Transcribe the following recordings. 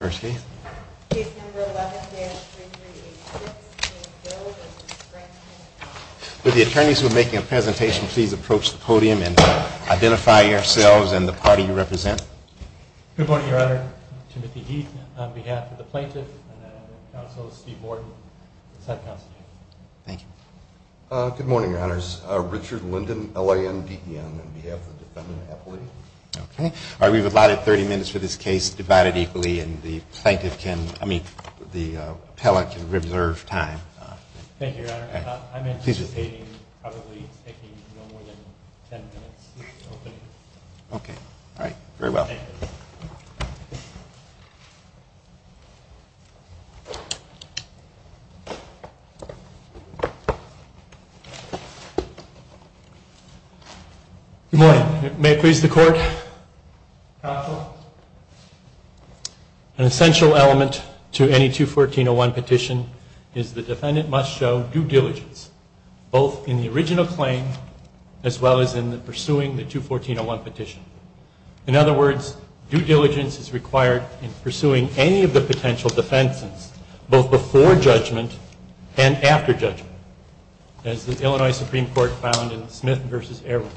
with the attorneys who are making a presentation, please approach the podium and identify yourselves and the party you represent. Good morning, Your Honor. Timothy Heath on behalf of the plaintiff and the counsel Steve Morton, the sub-counsel. Good morning, Your Honors. Richard Linden, L-I-N-D-E-N, on behalf of the defendant Appley. Okay. We've allotted 30 minutes for this case, divided equally, and the plaintiff can, I mean, the appellate can reserve time. Thank you, Your Honor. I'm anticipating probably taking no more than 10 minutes. Okay. All right. Very well. Thank you. Good morning. May it please the Court? Counsel? An essential element to any 214-01 petition is the defendant must show due diligence, both in the original claim as well as in the pursuing the 214-01 petition. In other words, due diligence is required in pursuing any of the potential defenses, both before judgment and after judgment, as the Illinois Supreme Court found in Smith v. Erwin.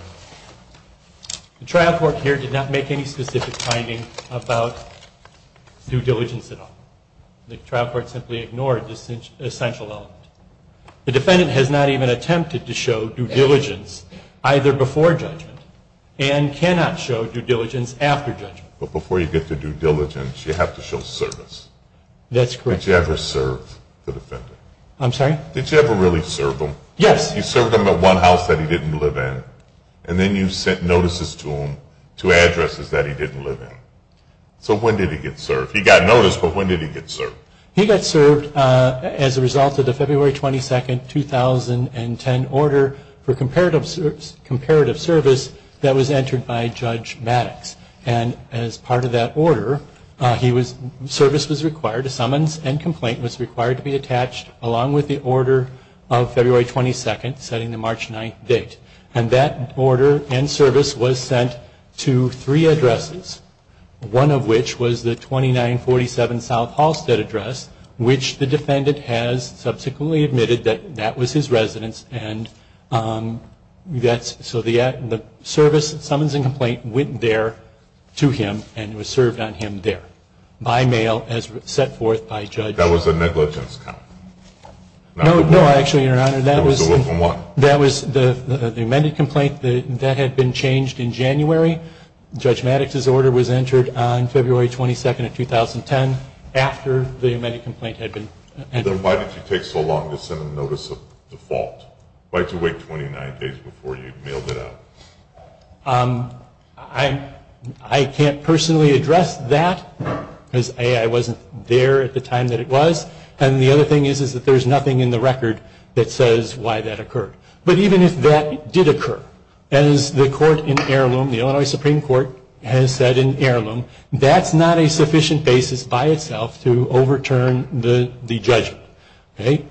The trial court here did not make any specific finding about due diligence at all. The trial court simply ignored this essential element. The defendant has not even attempted to show due diligence either before judgment and cannot show due diligence after judgment. But before you get to due diligence, you have to show service. That's correct. Did you ever serve the defendant? I'm sorry? Did you ever really serve him? Yes. You served him at one house that he didn't live in, and then you sent notices to him to addresses that he didn't live in. So when did he get served? He got noticed, but when did he get served? He got served as a result of the February 22, 2010 order for comparative service that was entered by Judge Maddox. And as part of that order, service was required, a summons and complaint was required to be attached along with the order of February 22, setting the March 9 date. And that order and service was sent to three addresses, one of which was the 2947 South Halstead address, which the defendant has subsequently admitted that that was his residence. And so the service, summons and complaint went there to him and was served on him there by mail as set forth by Judge Maddox. That was a negligence count? No, actually, Your Honor, that was the amended complaint that had been changed in January. Judge Maddox's order was entered on February 22, 2010 after the amended complaint had been entered. Then why did you take so long to send a notice of default? Why did you wait 29 days before you mailed it out? I can't personally address that, because A, I wasn't there at the time that it was, and the other thing is that there's nothing in the record that says why that occurred. But even if that did occur, as the court in heirloom, the Illinois Supreme Court has said in heirloom, that's not a sufficient basis by itself to overturn the judgment.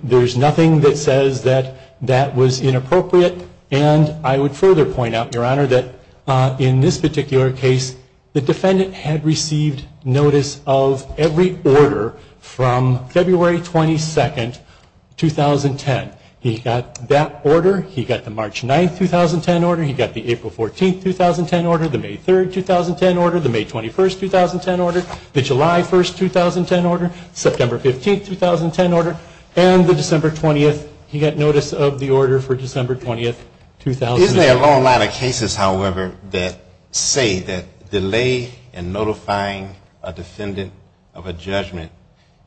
There's nothing that says that that was inappropriate. And I would further point out, Your Honor, that in this particular case, the defendant had received notice of every order from February 22, 2010. He got that order, he got the March 9, 2010 order, he got the April 14, 2010 order, the May 3, 2010 order, the May 21, 2010 order, the July 1, 2010 order, September 15, 2010 order, and the December 20, he got notice of the order for December 20, 2010. Isn't there a long line of cases, however, that say that delay in notifying a defendant of a judgment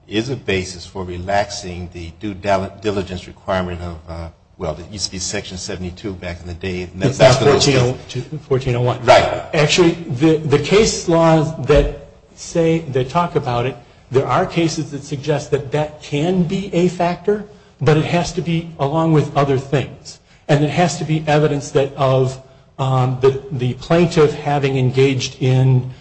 is a basis for relaxing the due diligence requirement of, well, it used to be Section 72 back in the day. It's not 1401. Right. Actually, the case laws that say, that talk about it, there are cases that suggest that that can be a factor, but it has to be along with other things. And it has to be evidence that of the plaintiff having engaged in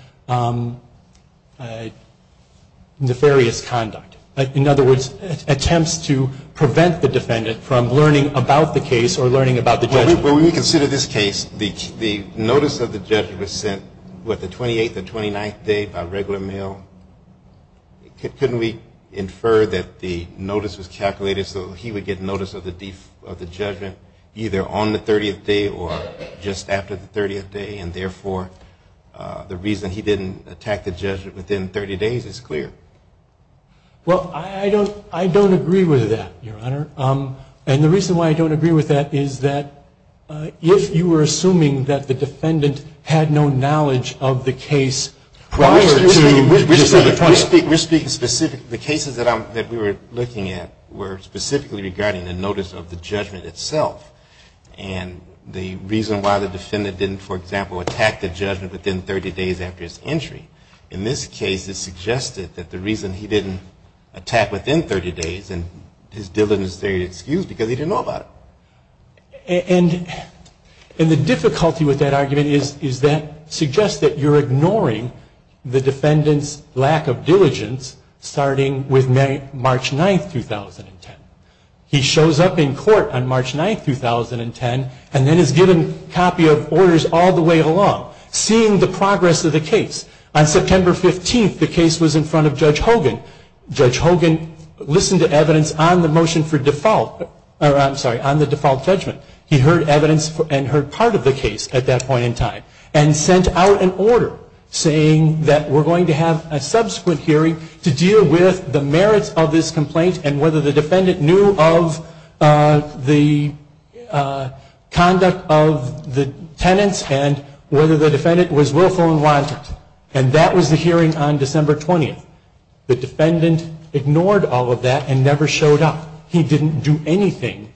nefarious conduct. In other words, attempts to prevent the defendant from learning about the case or learning about the judgment. When we consider this case, the notice of the judgment was sent, what, the 28th and 29th day by regular mail? Couldn't we infer that the notice was calculated so he would get notice of the judgment either on the 30th day or just after the 30th day, and therefore, the reason he didn't attack the judgment within 30 days is clear? Well, I don't agree with that, Your Honor. And the reason why I don't agree with that is that if you were assuming that the defendant had no knowledge of the case prior to December 20. We're speaking specifically, the cases that we were looking at were specifically regarding the notice of the judgment itself. And the reason why the defendant didn't, for example, attack the judgment within 30 days after his entry. In this case, it suggested that the reason he didn't attack within 30 days, and his diligence there is excused because he didn't know about it. And the difficulty with that argument is that suggests that you're ignoring the defendant's lack of diligence starting with March 9th, 2010. He shows up in court on March 9th, 2010, and then is given a copy of orders all the way along, seeing the progress of the case. On September 15th, the case was in front of Judge Hogan. Judge Hogan listened to evidence on the motion for default, or I'm sorry, on the default judgment. He heard evidence and heard part of the case at that point in time, and sent out an order saying that we're going to have a subsequent hearing to deal with the merits of this complaint and whether the defendant knew of the conduct of the tenants and whether the defendant was willful and wanted. And that was the hearing on December 20th. The defendant ignored all of that and never showed up. He didn't do anything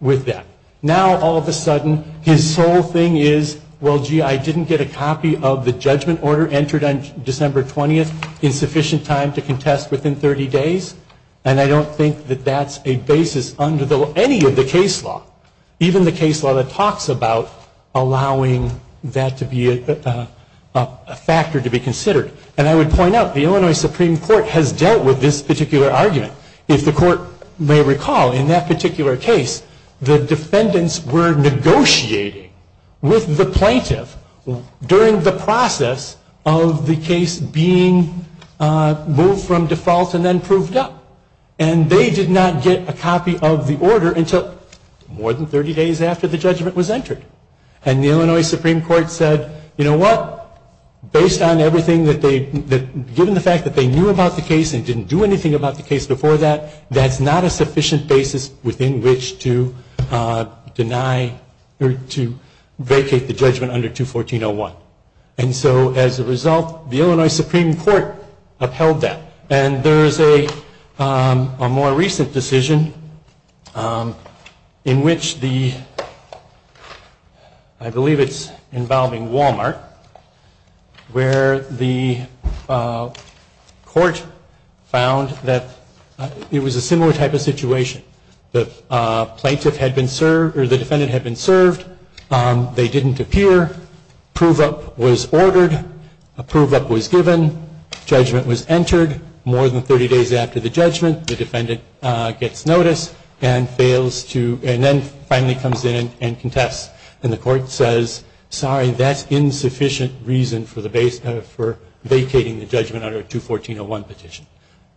with that. Now, all of a sudden, his sole thing is, well, gee, I didn't get a copy of the judgment order entered on December 20th in sufficient time to contest within 30 days, and I don't think that that's a basis under any of the case law. Even the case law that talks about allowing that to be a factor to be considered. And I would point out, the Illinois Supreme Court has dealt with this particular argument. If the court may recall, in that particular case, the defendants were negotiating with the plaintiff during the process of the case being moved from default and then proved up. And they did not get a copy of the order until more than 30 days after the judgment was entered. And the Illinois Supreme Court said, you know what? Based on everything that they, given the fact that they knew about the case and didn't do anything about the case before that, that's not a sufficient basis within which to deny or to vacate the judgment under 214.01. And so as a result, the Illinois Supreme Court upheld that. And there is a more recent decision in which the, I believe it's involving Walmart, where the court found that it was a similar type of situation. The plaintiff had been served, or the defendant had been served. They didn't appear. Prove up was ordered. Prove up was given. Judgment was entered. More than 30 days after the judgment, the defendant gets notice and fails to, and then finally comes in and contests. And the court says, sorry, that's insufficient reason for the base, for vacating the judgment under 214.01 petition.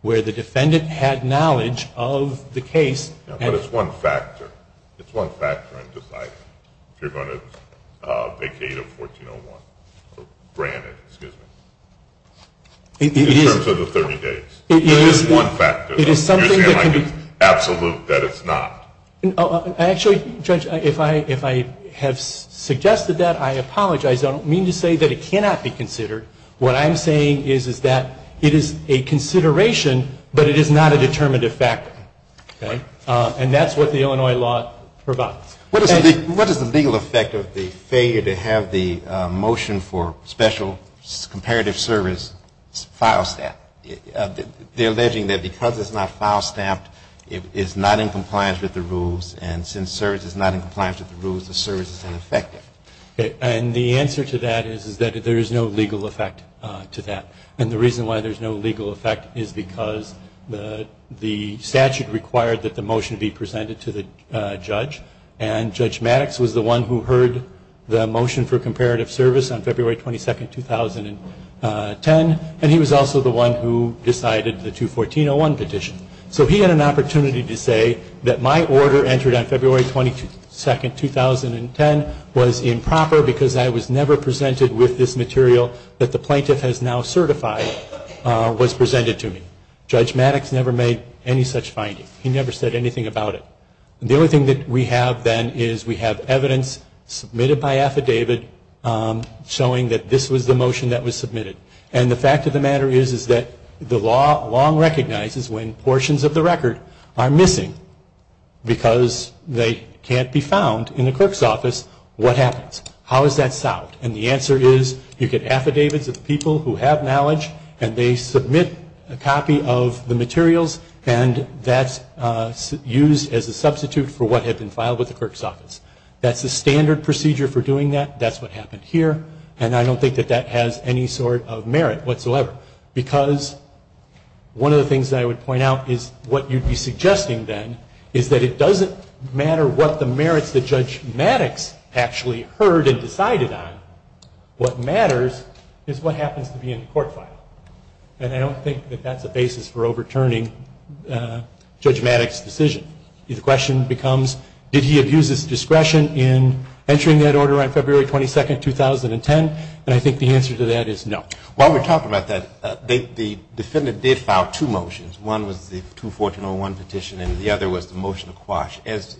Where the defendant had knowledge of the case. Now, but it's one factor. It's one factor in deciding if you're going to vacate a 14.01, granted, excuse me. In terms of the 30 days. It is one factor. It is something that can be. Absolute that it's not. Actually, Judge, if I have suggested that, I apologize. I don't mean to say that it cannot be considered. What I'm saying is that it is a consideration, but it is not a determinative factor. Okay? And that's what the Illinois law provides. What is the legal effect of the failure to have the motion for special comparative service file staff? They're alleging that because it's not file staffed, it's not in compliance with the rules. And since service is not in compliance with the rules, the service is ineffective. And the answer to that is that there is no legal effect to that. And the reason why there's no legal effect is because the statute required that the motion be presented to the judge. And Judge Maddox was the one who heard the motion for comparative service on February 22, 2010. And he was also the one who decided the 214.01 petition. So he had an opportunity to say that my order entered on February 22, 2010 was improper because I was never presented with this material that the plaintiff has now certified was presented to me. Judge Maddox never made any such finding. He never said anything about it. The only thing that we have then is we have evidence submitted by affidavit showing that this was the motion that was submitted. And the fact of the matter is that the law long recognizes when portions of the record are missing because they can't be found in the clerk's office, what happens? How is that solved? And the answer is you get affidavits of people who have knowledge and they submit a copy of the materials and that's used as a substitute for what had been filed with the clerk's office. That's the standard procedure for doing that. That's what happened here. And I don't think that that has any sort of merit whatsoever because one of the things that I would point out is what you'd be suggesting then is that it doesn't matter what the merits that Judge Maddox actually heard and decided on. What matters is what happens to be in the court file. And I don't think that that's a basis for overturning Judge Maddox's decision. The question becomes did he abuse his discretion in entering that order on February 22nd, 2010? And I think the answer to that is no. While we're talking about that, the defendant did file two motions. One was the 214.01 petition and the other was the motion to quash. At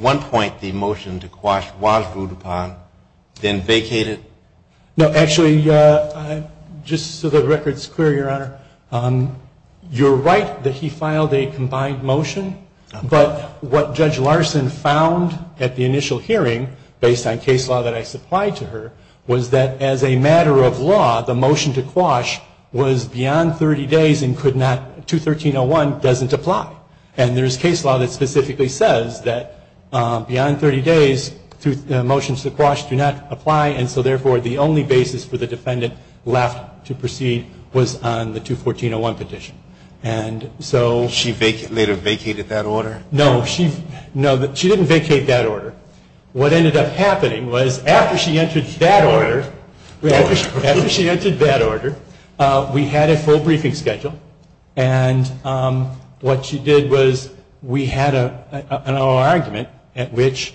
one point the motion to quash was ruled upon, then vacated. No, actually, just so the record's clear, Your Honor, you're right that he filed a combined motion. But what Judge Larson found at the initial hearing based on case law that I supplied to her was that as a matter of law, the motion to quash was beyond 30 days and could not, 213.01 doesn't apply. And there's case law that specifically says that beyond 30 days, motions to quash do not apply. And so, therefore, the only basis for the defendant left to proceed was on the 214.01 petition. And so... She later vacated that order? No, she didn't vacate that order. What ended up happening was after she entered that order, we had a full briefing schedule. And what she did was we had an oral argument at which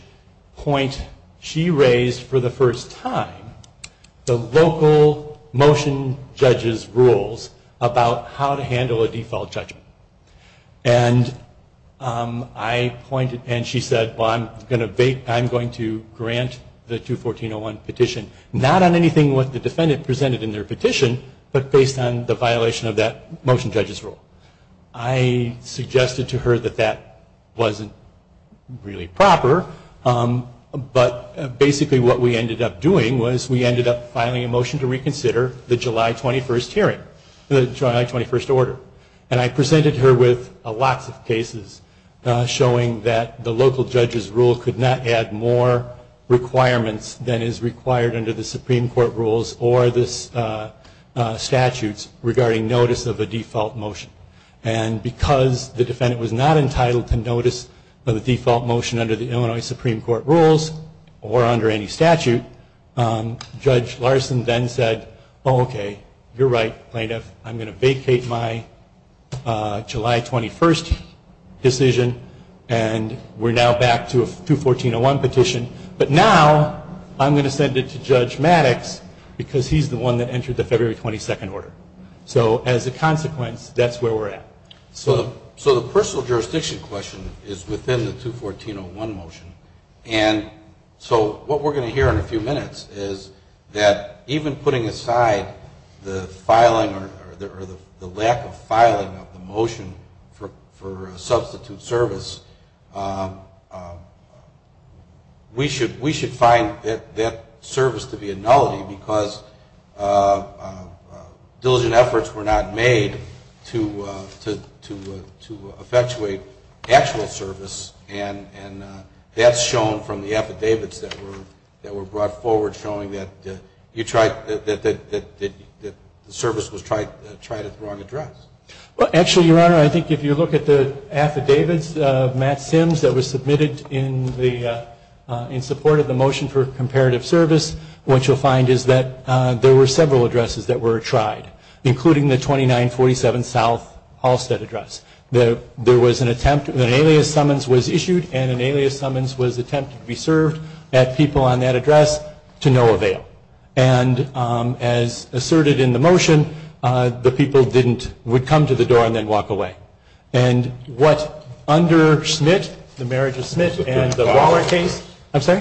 point she raised for the first time the local motion judge's rules about how to handle a default judgment. And I pointed and she said, well, I'm going to grant the 214.01 petition, not on anything that the defendant presented in their petition, but based on the violation of that motion judge's rule. I suggested to her that that wasn't really proper, but basically what we ended up doing was we ended up filing a motion to reconsider the July 21st hearing, the July 21st order. And I presented her with lots of cases showing that the local judge's rule could not add more requirements than is required under the Supreme Court rules or the statute regarding notice of a default motion. And because the defendant was not entitled to notice of a default motion under the Illinois Supreme Court rules or under any statute, Judge Larson then said, oh, okay, you're right, plaintiff, I'm going to vacate my July 21st decision and we're now back to a 214.01 petition, but now I'm going to send it to Judge Maddox because he's the one that entered the February 22nd order. So as a consequence, that's where we're at. So the personal jurisdiction question is within the 214.01 motion. And so what we're going to hear in a few minutes is that even putting aside the filing or the lack of filing of the motion for a substitute service, we should find that service to be a nullity because diligent efforts were not made to effectuate actual service. And that's shown from the affidavits that were brought forward showing that the service was tried at the wrong address. Well, actually, Your Honor, I think if you look at the affidavits of Matt Sims that were submitted in support of the motion, the motion for comparative service, what you'll find is that there were several addresses that were tried, including the 2947 South Halstead address. There was an attempt, an alias summons was issued and an alias summons was attempted to be served at people on that address to no avail. And as asserted in the motion, the people didn't, would come to the door and then walk away. And what under Smith, the marriage of Smith and the Waller case, I'm sorry?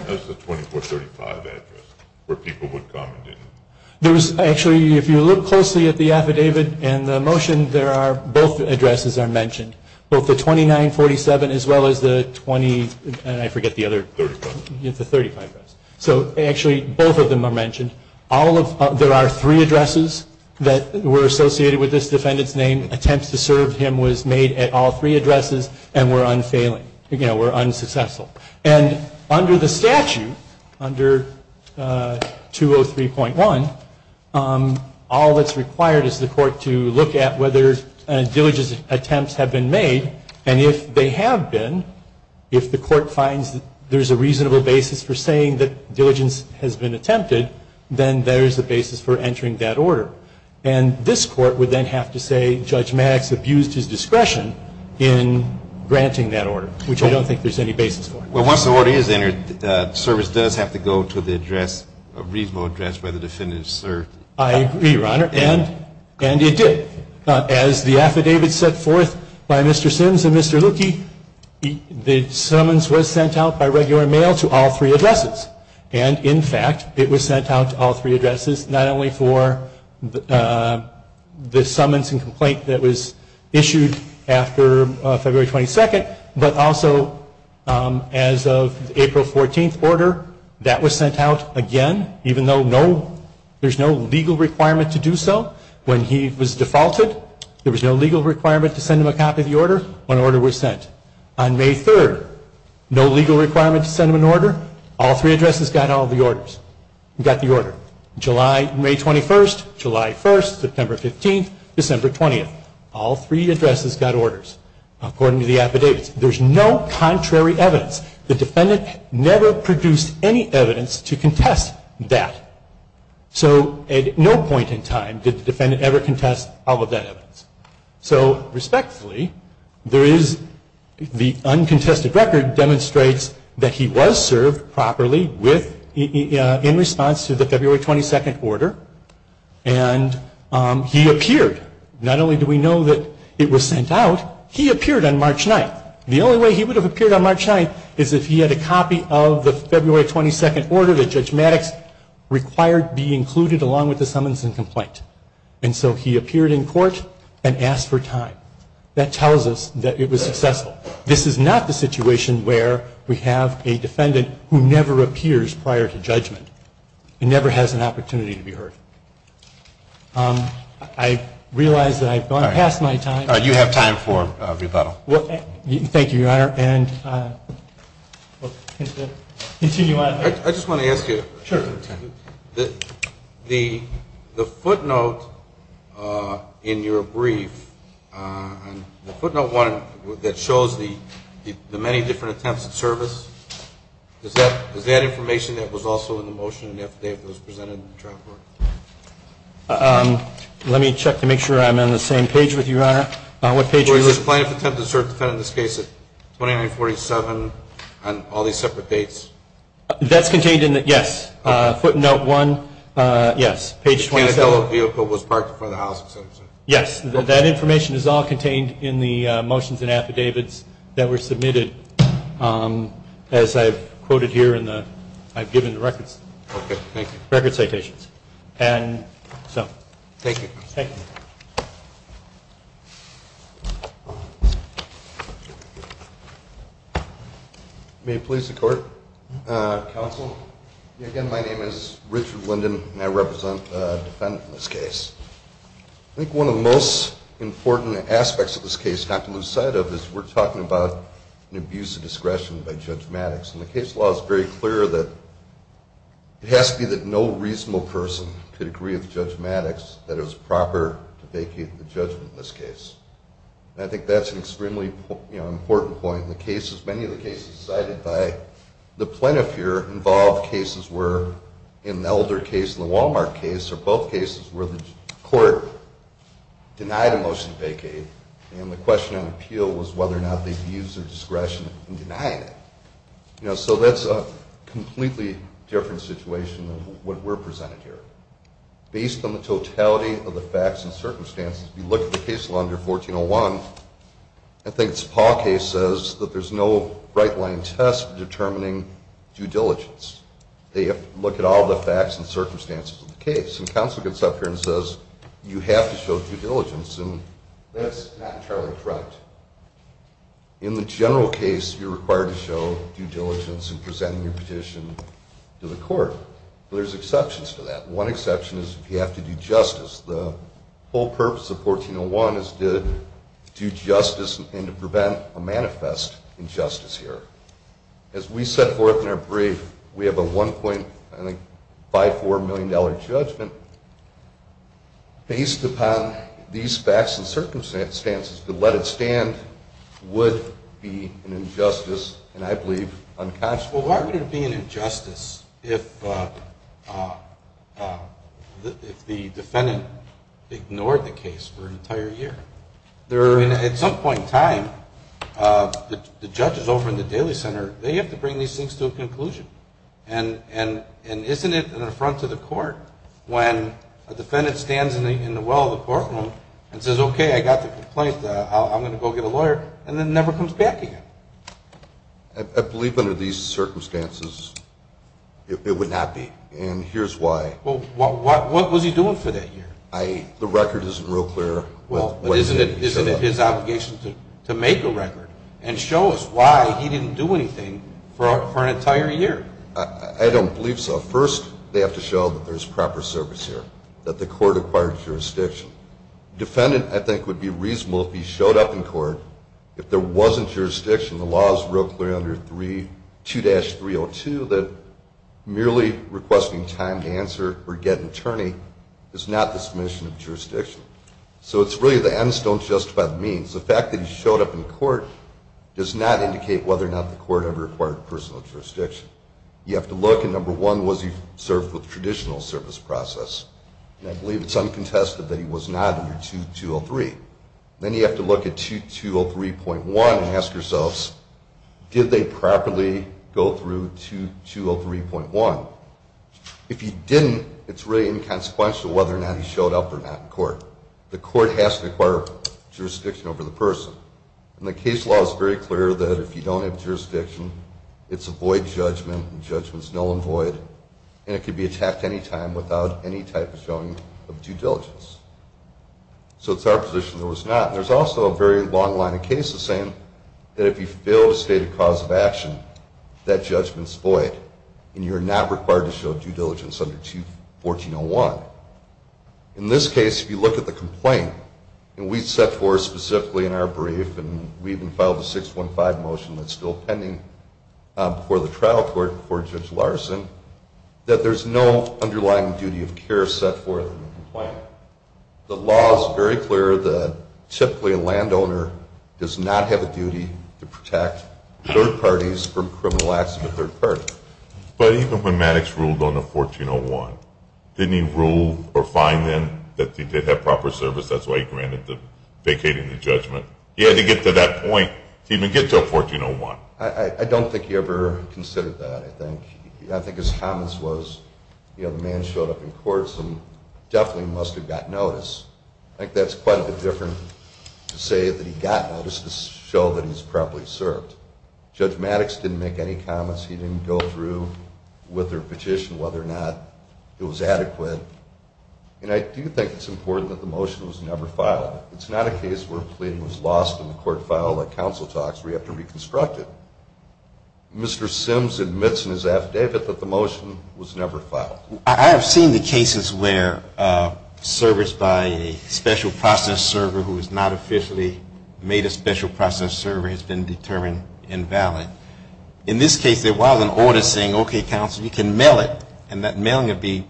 There was actually, if you look closely at the affidavit and the motion, there are, both addresses are mentioned, both the 2947 as well as the 20, and I forget the other, the 35 address. So actually, both of them are mentioned. All of, there are three addresses that were associated with this defendant's name, attempts to serve him was made at all three addresses and were attempted to be served at people on that address to no avail. Now, under the statute, under 203.1, all that's required is the court to look at whether diligence attempts have been made, and if they have been, if the court finds that there's a reasonable basis for saying that diligence has been attempted, then there's a basis for entering that order. And this court would then have to say, Judge Maddox abused his discretion in granting that order, which I don't think there's any basis for. Well, once the order is entered, the service does have to go to the address, a reasonable address where the defendant is served. I agree, Your Honor, and it did. As the affidavit set forth by Mr. Sims and Mr. Luckey, the summons was sent out by regular mail to all three addresses. And in fact, it was sent out to all three addresses, not only for the summons and complaint that was issued after February 22nd, but also as a April 14th order, that was sent out again, even though there's no legal requirement to do so. When he was defaulted, there was no legal requirement to send him a copy of the order when an order was sent. On May 3rd, no legal requirement to send him an order. All three addresses got the order. July, May 21st, July 1st, September 15th, December 20th. All three addresses got orders, according to the affidavits. There's no contrary evidence. The defendant never produced any evidence to contest that. So at no point in time did the defendant ever contest all of that evidence. So respectfully, there is the uncontested record demonstrates that he was served properly in response to the February 22nd order, and he appeared. Not only do we know that it was sent out, he appeared on March 9th. The only way he would have appeared on March 9th is if he had a copy of the February 22nd order that Judge Maddox required be included along with the summons and complaint. And so he appeared in court and asked for time. That tells us that it was successful. This is not the situation where we have a defendant who never appears prior to judgment and never has an opportunity to be heard. I realize that I've gone past my time. You have time for rebuttal. Thank you, Your Honor. I just want to ask you, the footnote in your brief, the footnote 1 that shows the many different attempts at service, is that information that was also in the motion in the affidavit that was presented in the trial court? Let me check to make sure I'm on the same page with you, Your Honor. Was the plaintiff attempted to serve the defendant in this case at 2947 on all these separate dates? That's contained in the, yes. Footnote 1, yes. Page 27. Yes, that information is all contained in the motions and affidavits that were submitted, as I've quoted here in the, I've given the records. Okay, thank you. Record citations. Thank you. May it please the Court. Counsel, again, my name is Richard Linden and I represent a defendant in this case. I think one of the most important aspects of this case not to lose sight of is we're talking about an abuse of discretion by Judge Maddox. And the case law is very clear that it has to be that no reasonable person could agree with Judge Maddox that it was proper to vacate the judgment in this case. And I think that's an extremely, you know, important point. In the cases, many of the cases cited by the plaintiff here involve cases where in the Elder case and the Walmart case are both cases where the court denied a motion to vacate. And the question on appeal was whether or not they abused their discretion in denying it. You know, so that's a completely different situation than what we're presenting here. Based on the totality of the facts and circumstances, if you look at the case law under 1401, I think it's Paul case says that there's no right-line test determining due diligence. They have to look at all the facts and circumstances of the case. And counsel gets up here and says, you have to show due diligence. And that's not entirely correct. In the general case, you're required to show due diligence in presenting your petition to the court. But there's exceptions to that. One exception is if you have to do justice. The whole purpose of 1401 is to do justice and to prevent a manifest injustice here. As we set forth in our brief, we have a $1.54 million judgment based upon these facts and circumstances. To let it stand would be an injustice and, I believe, unconscionable. Well, why would it be an injustice if the defendant ignored the case for an entire year? At some point in time, the judges over in the Daly Center, they have to bring these things to a conclusion. And isn't it an affront to the court when a defendant stands in the well of the courtroom and says, okay, I got the complaint. I'm going to go get a lawyer, and then never comes back again? I believe under these circumstances, it would not be. And here's why. Well, what was he doing for that year? The record isn't real clear. Well, isn't it his obligation to make a record and show us why he didn't do anything for an entire year? I don't believe so. First, they have to show that there's proper service here, that the court acquired jurisdiction. The defendant, I think, would be reasonable if he showed up in court, if there wasn't jurisdiction. The law is real clear under 2-302 that merely requesting time to answer or get an attorney is not the submission of jurisdiction. So it's really the ends don't justify the means. The fact that he showed up in court does not indicate whether or not the court ever acquired personal jurisdiction. You have to look, and number one, was he served with traditional service process? And I believe it's uncontested that he was not under 2-203. Then you have to look at 2-203.1 and ask yourselves, did they properly go through 2-203.1? If you didn't, it's really inconsequential whether or not he showed up or not in court. The court has to acquire jurisdiction over the person. And the case law is very clear that if you don't have jurisdiction, it's a void judgment, and judgment's null and void. And it could be attacked any time without any type of showing of due diligence. So it's our position there was not. There's also a very long line of cases saying that if you fail to state a cause of action, that judgment's void, and you're not required to show due diligence under 2-1401. In this case, if you look at the complaint, and we set forth specifically in our brief, and we even filed a 615 motion that's still pending before the trial court, before Judge Larson, that there's no underlying duty of care set forth in the complaint. The law is very clear that typically a landowner does not have a duty to protect third parties from criminal acts of a third party. But even when Maddox ruled on the 1401, didn't he rule or fine them that they did have proper service? That's why he granted them vacating the judgment. He had to get to that point to even get to a 1401. I don't think he ever considered that, I think. I think his comments was, you know, the man showed up in courts and definitely must have got notice. I think that's quite a bit different to say that he got notice to show that he's properly served. Judge Maddox didn't make any comments. He didn't go through with their petition whether or not it was adequate. And I do think it's important that the motion was never filed. It's not a case where a plea was lost and the court filed like council talks where you have to reconstruct it. Mr. Sims admits in his affidavit that the motion was never filed. I have seen the cases where service by a special process server who has not officially made a special process server has been determined invalid. In this case, there was an order saying, okay, counsel, you can mail it. And that mailing would be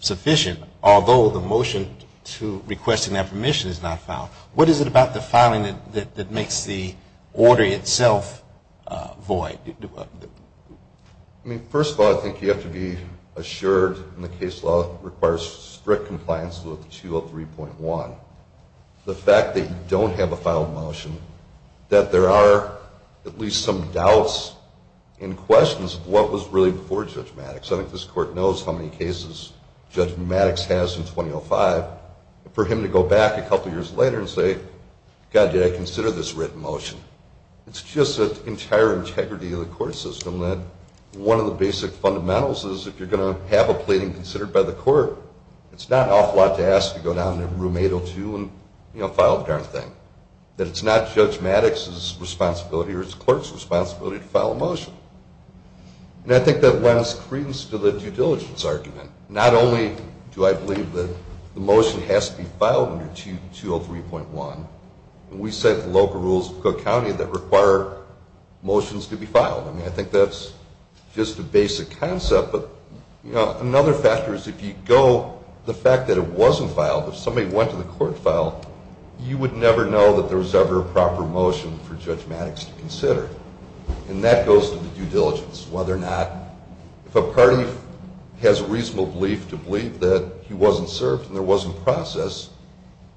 sufficient, although the motion to request that permission is not filed. What is it about the filing that makes the order itself void? I mean, first of all, I think you have to be assured in the case law requires strict compliance with 203.1. The fact that you don't have a final motion, that there are at least some doubts and questions of what was really before Judge Maddox. I think this court knows how many cases Judge Maddox has in 2005. For him to go back a couple years later and say, God, did I consider this written motion? It's just an entire integrity of the court system that one of the basic fundamentals is if you're going to have a pleading considered by the court, it's not an awful lot to ask to go down to room 802 and file a darn thing. That it's not Judge Maddox's responsibility or his clerk's responsibility to file a motion. And I think that lends credence to the due diligence argument. Not only do I believe that the motion has to be filed under 203.1, we set the local rules of Cook County that require motions to be filed. I mean, I think that's just a basic concept, but another factor is if you go, the fact that it wasn't filed, if somebody went to the court and filed, you would never know that there was ever a proper motion for Judge Maddox to consider. And that goes to the due diligence. Whether or not, if a party has a reasonable belief to believe that he wasn't served and there wasn't process,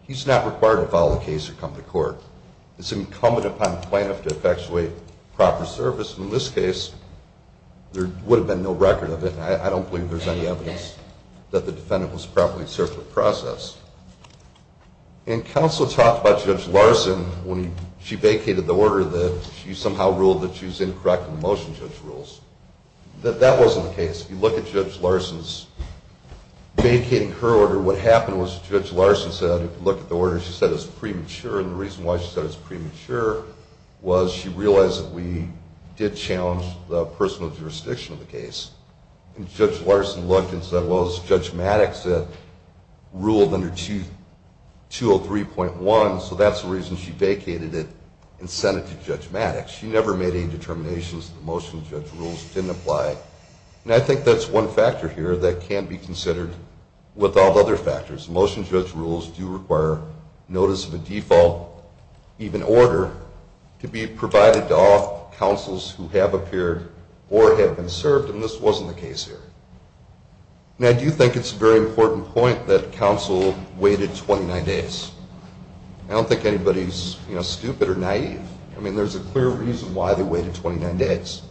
he's not required to file a case or come to court. It's incumbent upon the plaintiff to effectuate proper service. And in this case, there would have been no record of it, and I don't believe there's any evidence that the defendant was properly served or processed. And counsel talked about Judge Larson when she vacated the order that she somehow ruled that she was incorrect in the motion judge rules. That wasn't the case. If you look at Judge Larson's vacating her order, what happened was Judge Larson said, if you look at the order, she said it was premature, and the reason why she said it was premature was she realized that we did challenge the personal jurisdiction of the case. And Judge Larson looked and said, well, it's Judge Maddox that ruled under 203.1, so that's the reason she vacated it and sent it to Judge Maddox. She never made any determinations that the motion judge rules didn't apply. And I think that's one factor here that can be considered with all other factors. Motion judge rules do require notice of a default, even order, to be provided to all counsels who have appeared or have been served, and this wasn't the case here. And I do think it's a very important point that counsel waited 29 days. I don't think anybody's stupid or naive. I mean, there's a clear reason why they waited 29 days.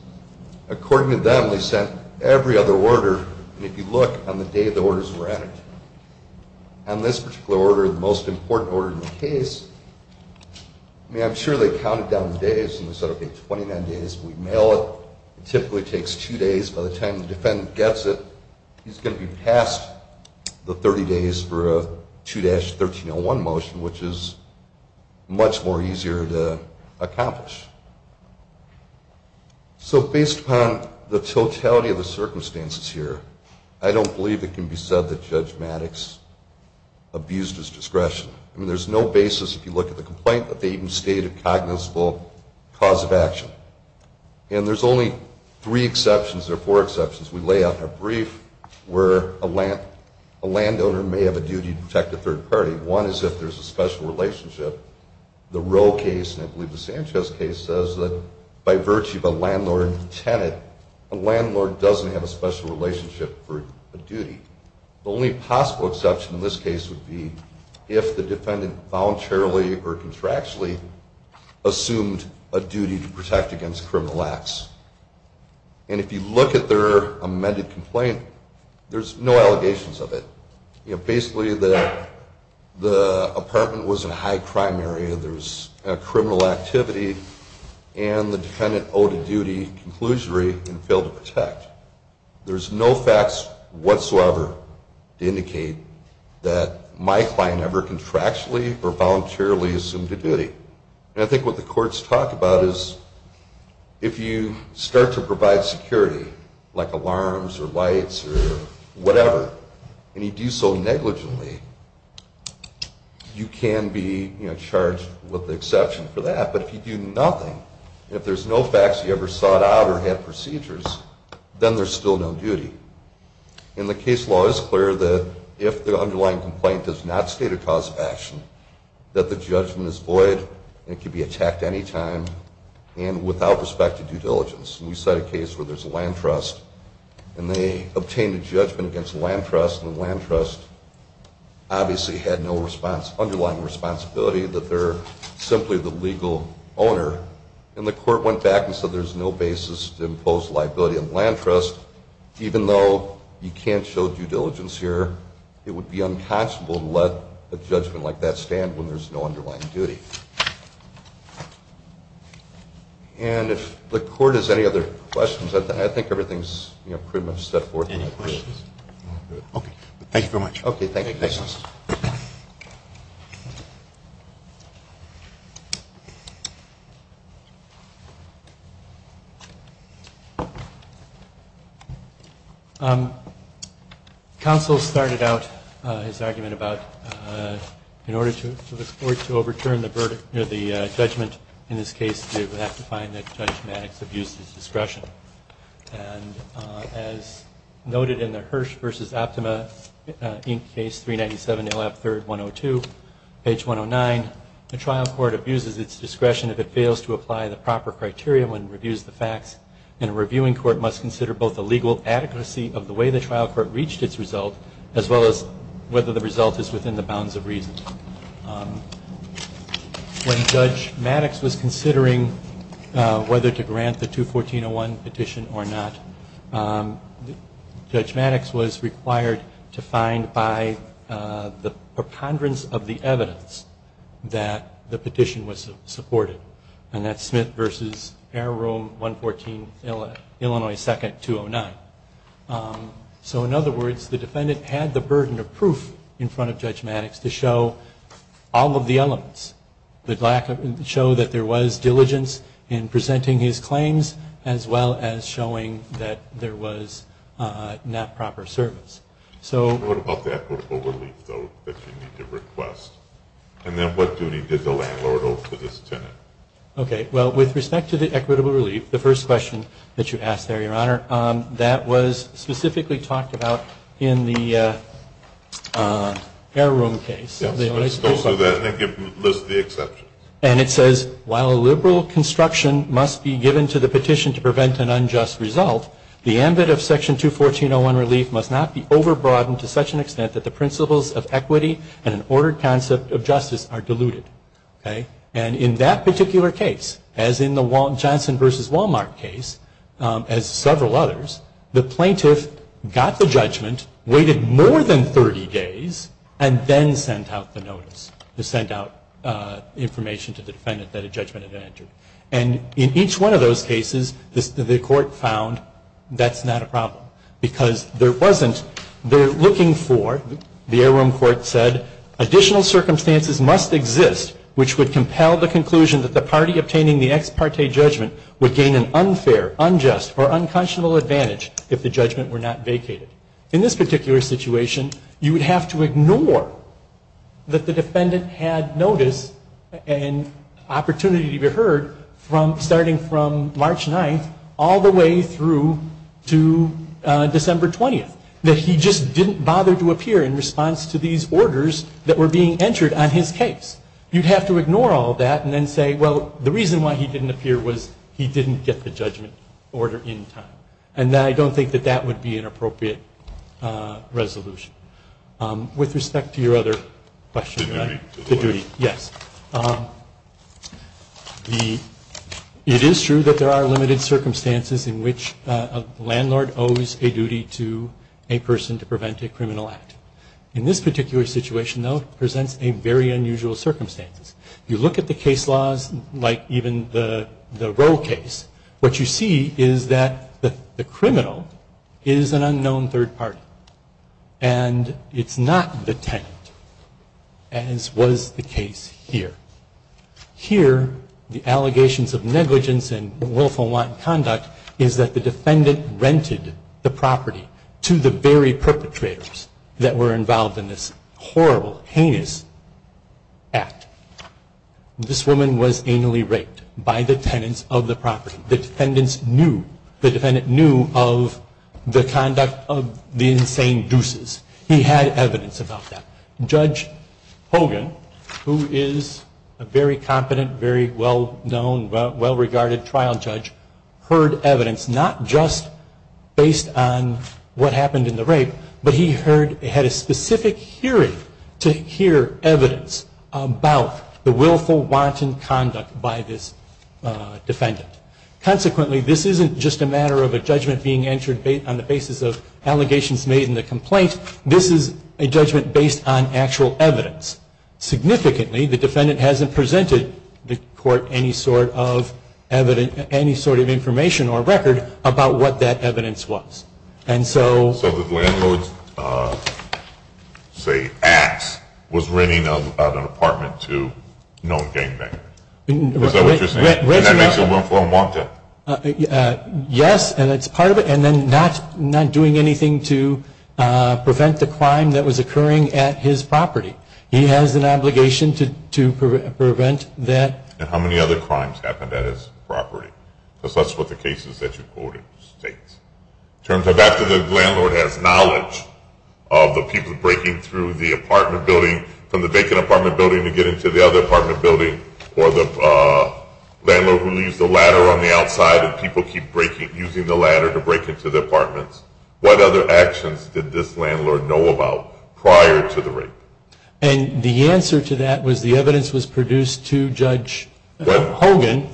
According to them, they sent every other order, and if you look on the day the orders were added, on this particular order, the most important order in the case, I mean, I'm sure they counted down the days and they said, okay, 29 days, we mail it. It typically takes two days. By the time the defendant gets it, he's going to be past the 30 days for a 2-1301 motion, which is much more easier to accomplish. So based upon the totality of the circumstances here, I don't believe it can be said that Judge Maddox abused his discretion. I mean, there's no basis, if you look at the complaint, that they even stated a cognizable cause of action. And there's only three exceptions or four exceptions we lay out in our brief where a landowner may have a duty to protect a third party. One is if there's a special relationship. The Roe case, and I believe the Sanchez case, says that by virtue of a landlord tenant, a landlord doesn't have a special relationship for a duty. The only possible exception in this case would be if the defendant voluntarily or contractually assumed a duty to protect against criminal acts. And if you look at their amended complaint, there's no allegations of it. Basically, the apartment was in a high-crime area, there was criminal activity, and the defendant owed a duty conclusionary and failed to protect. There's no facts whatsoever to indicate that my client ever contractually or voluntarily assumed a duty. And I think what the courts talk about is if you start to provide security, like alarms or lights or whatever, and you do so negligently, you can be charged with the exception for that. But if you do nothing, if there's no facts you ever sought out or had procedures, then there's still no duty. And the case law is clear that if the underlying complaint does not state a cause of action, that the judgment is void and can be attacked anytime and without respect to due diligence. We cite a case where there's a land trust and they obtained a judgment against the land trust and the land trust obviously had no underlying responsibility that they're simply the legal owner. And the court went back and said there's no basis to impose liability on the land trust even though you can't show due diligence here. It would be unconscionable to let a judgment like that stand when there's no underlying duty. And if the court has any other questions, I think everything's pretty much set forth. Any questions? Okay. Thank you very much. Counsel started out his argument about in order for this Court to overturn the Bill the judgment in this case would have to find that Judge Maddox abused his discretion. And as noted in the Hirsch v. Optima Inc. Case 397-0F3-102, page 109, the trial court abuses its discretion if it fails to apply the proper criteria when it reviews the facts. And a reviewing court must consider both the legal adequacy of the way the trial court reached its result as well as whether the result is within the bounds of reason. When Judge Maddox was considering whether to grant the 214-01 petition or not, Judge Maddox was required to find by the preponderance of the evidence that the petition was supported. And that's Smith v. Arrow Room 114, Illinois 2nd, 209. So in other words, the defendant had the burden of proof in front of Judge Maddox to show all of the elements. To show that there was diligence in presenting his claims as well as showing that there was not proper service. What about the equitable relief, though, that you need to request? And then what duty did the landlord owe to this tenant? Okay, well, with respect to the equitable relief, the first question that you asked there, Your Honor, that was specifically talked about in the Arrow Room case. And it says, while a liberal construction must be given to the petition to prevent an unjust result, the ambit of Section 214-01 relief must not be overbroadened to such an extent that the principles of equity and an ordered concept of justice are diluted. And in that particular case, as in the Johnson v. Walmart case, as several others, the plaintiff got the judgment, waited more than 30 days, and then sent out the notice. Sent out information to the defendant that a judgment had entered. And in each one of those cases, the court found that's not a problem. Because there wasn't, they're looking for, the Arrow Room court said, additional circumstances must exist which would compel the conclusion that the party obtaining the ex parte judgment would gain an unfair, unjust, or unconscionable advantage if the judgment were not vacated. In this particular situation, you would have to ignore that the defendant had notice and opportunity to be heard starting from March 9th all the way through to December 20th. That he just didn't bother to appear in response to these orders that were being entered on his case. You'd have to ignore all that and then say, well, the reason why he didn't appear was he didn't get the judgment order in time. And I don't think that that would be an appropriate resolution. With respect to your other question. The duty. Yes. It is true that there are limited circumstances in which a landlord owes a duty to a person to prevent a criminal act. In this particular situation, though, presents a very unusual circumstances. You look at the case laws, like even the Roe case, what you see is that the criminal is an unknown third party. And it's not the tenant. As was the case here. Here, the allegations of negligence and the defendant rented the property to the very perpetrators that were involved in this horrible, heinous act. This woman was anally raped by the tenants of the property. The defendants knew. The defendant knew of the conduct of the insane deuces. He had evidence about that. Judge Hogan, who is a very competent, very well-known, well-regarded trial judge, heard evidence not just based on what happened in the rape, but he had a specific hearing to hear evidence about the willful, wanton conduct by this defendant. Consequently, this isn't just a matter of a judgment being entered on the basis of allegations made in the complaint. This is a judgment based on actual evidence. any sort of evidence, any sort of information or record about what that evidence was. And so... So the landlord's, say, act was renting an apartment to a known gang member. Is that what you're saying? And that makes it willful and wanton? Yes, and it's part of it. And then not doing anything to prevent the crime that was occurring at his property. He has an obligation to prevent that. And how many other crimes happened at his property? Because that's what the case is that you quoted states. In terms of after the landlord has knowledge of the people breaking through the apartment building, from the vacant apartment building to getting to the other apartment building, or the landlord who leaves the ladder on the outside and people keep using the ladder to break into the apartments, what other actions did this landlord know about prior to the rape? And the answer to that was the evidence was produced to Judge Hogan.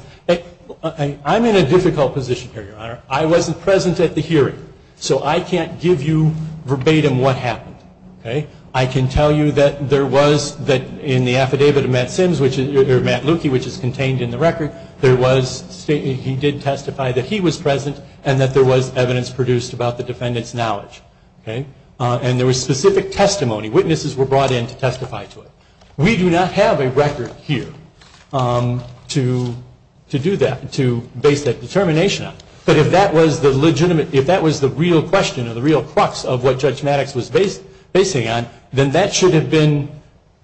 I'm in a difficult position here, Your Honor. I wasn't present at the hearing. So I can't give you verbatim what happened. I can tell you that there was, in the affidavit of Matt Simms, or Matt Lukey, which is contained in the record, he did testify that he was present and that there was evidence produced about the defendant's knowledge. And there was specific testimony. Witnesses were brought in to testify to it. We do not have a record here to do that, to base that determination on. But if that was the legitimate, if that was the real question or the real crux of what Judge Maddox was basing on, then that should have been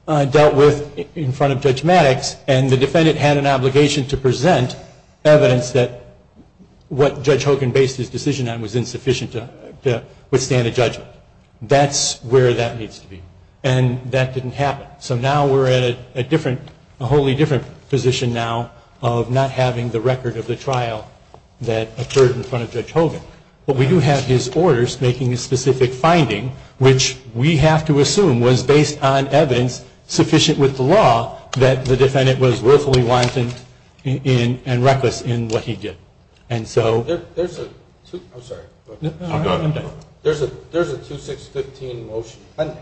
dealt with in front of Judge Maddox and the defendant had an obligation to present evidence that what Judge Hogan based his decision on was insufficient to withstand a judgment. That's where that needs to be. And that didn't happen. So now we're at a different, a wholly different position now of not having the record of the trial that occurred in front of Judge Hogan. But we do have his orders making a specific finding, which we have to assume was based on evidence sufficient with the law that the defendant was willfully wanton and reckless in what he did. And so... I'm sorry. There's a 2-6-15 motion pending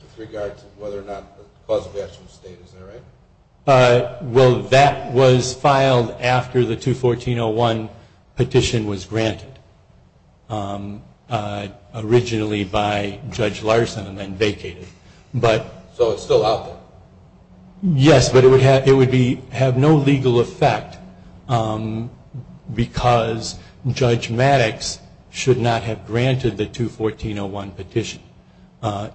with regards to whether or not the cause of action was stated. Is that right? Well, that was filed after the 2-14-01 petition was granted, originally by Judge Larson and then vacated. So it's still out there? Yes, but it would have no legal effect because Judge Maddox should not have granted the 2-14-01 petition.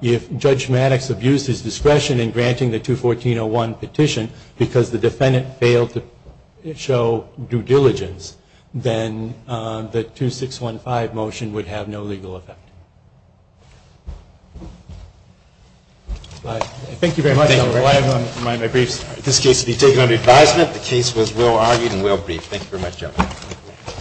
If Judge Maddox abused his discretion in granting the 2-14-01 petition because the defendant failed to show due diligence, then the 2-6-15 motion would have no legal effect. Thank you very much. I'll remind my briefs.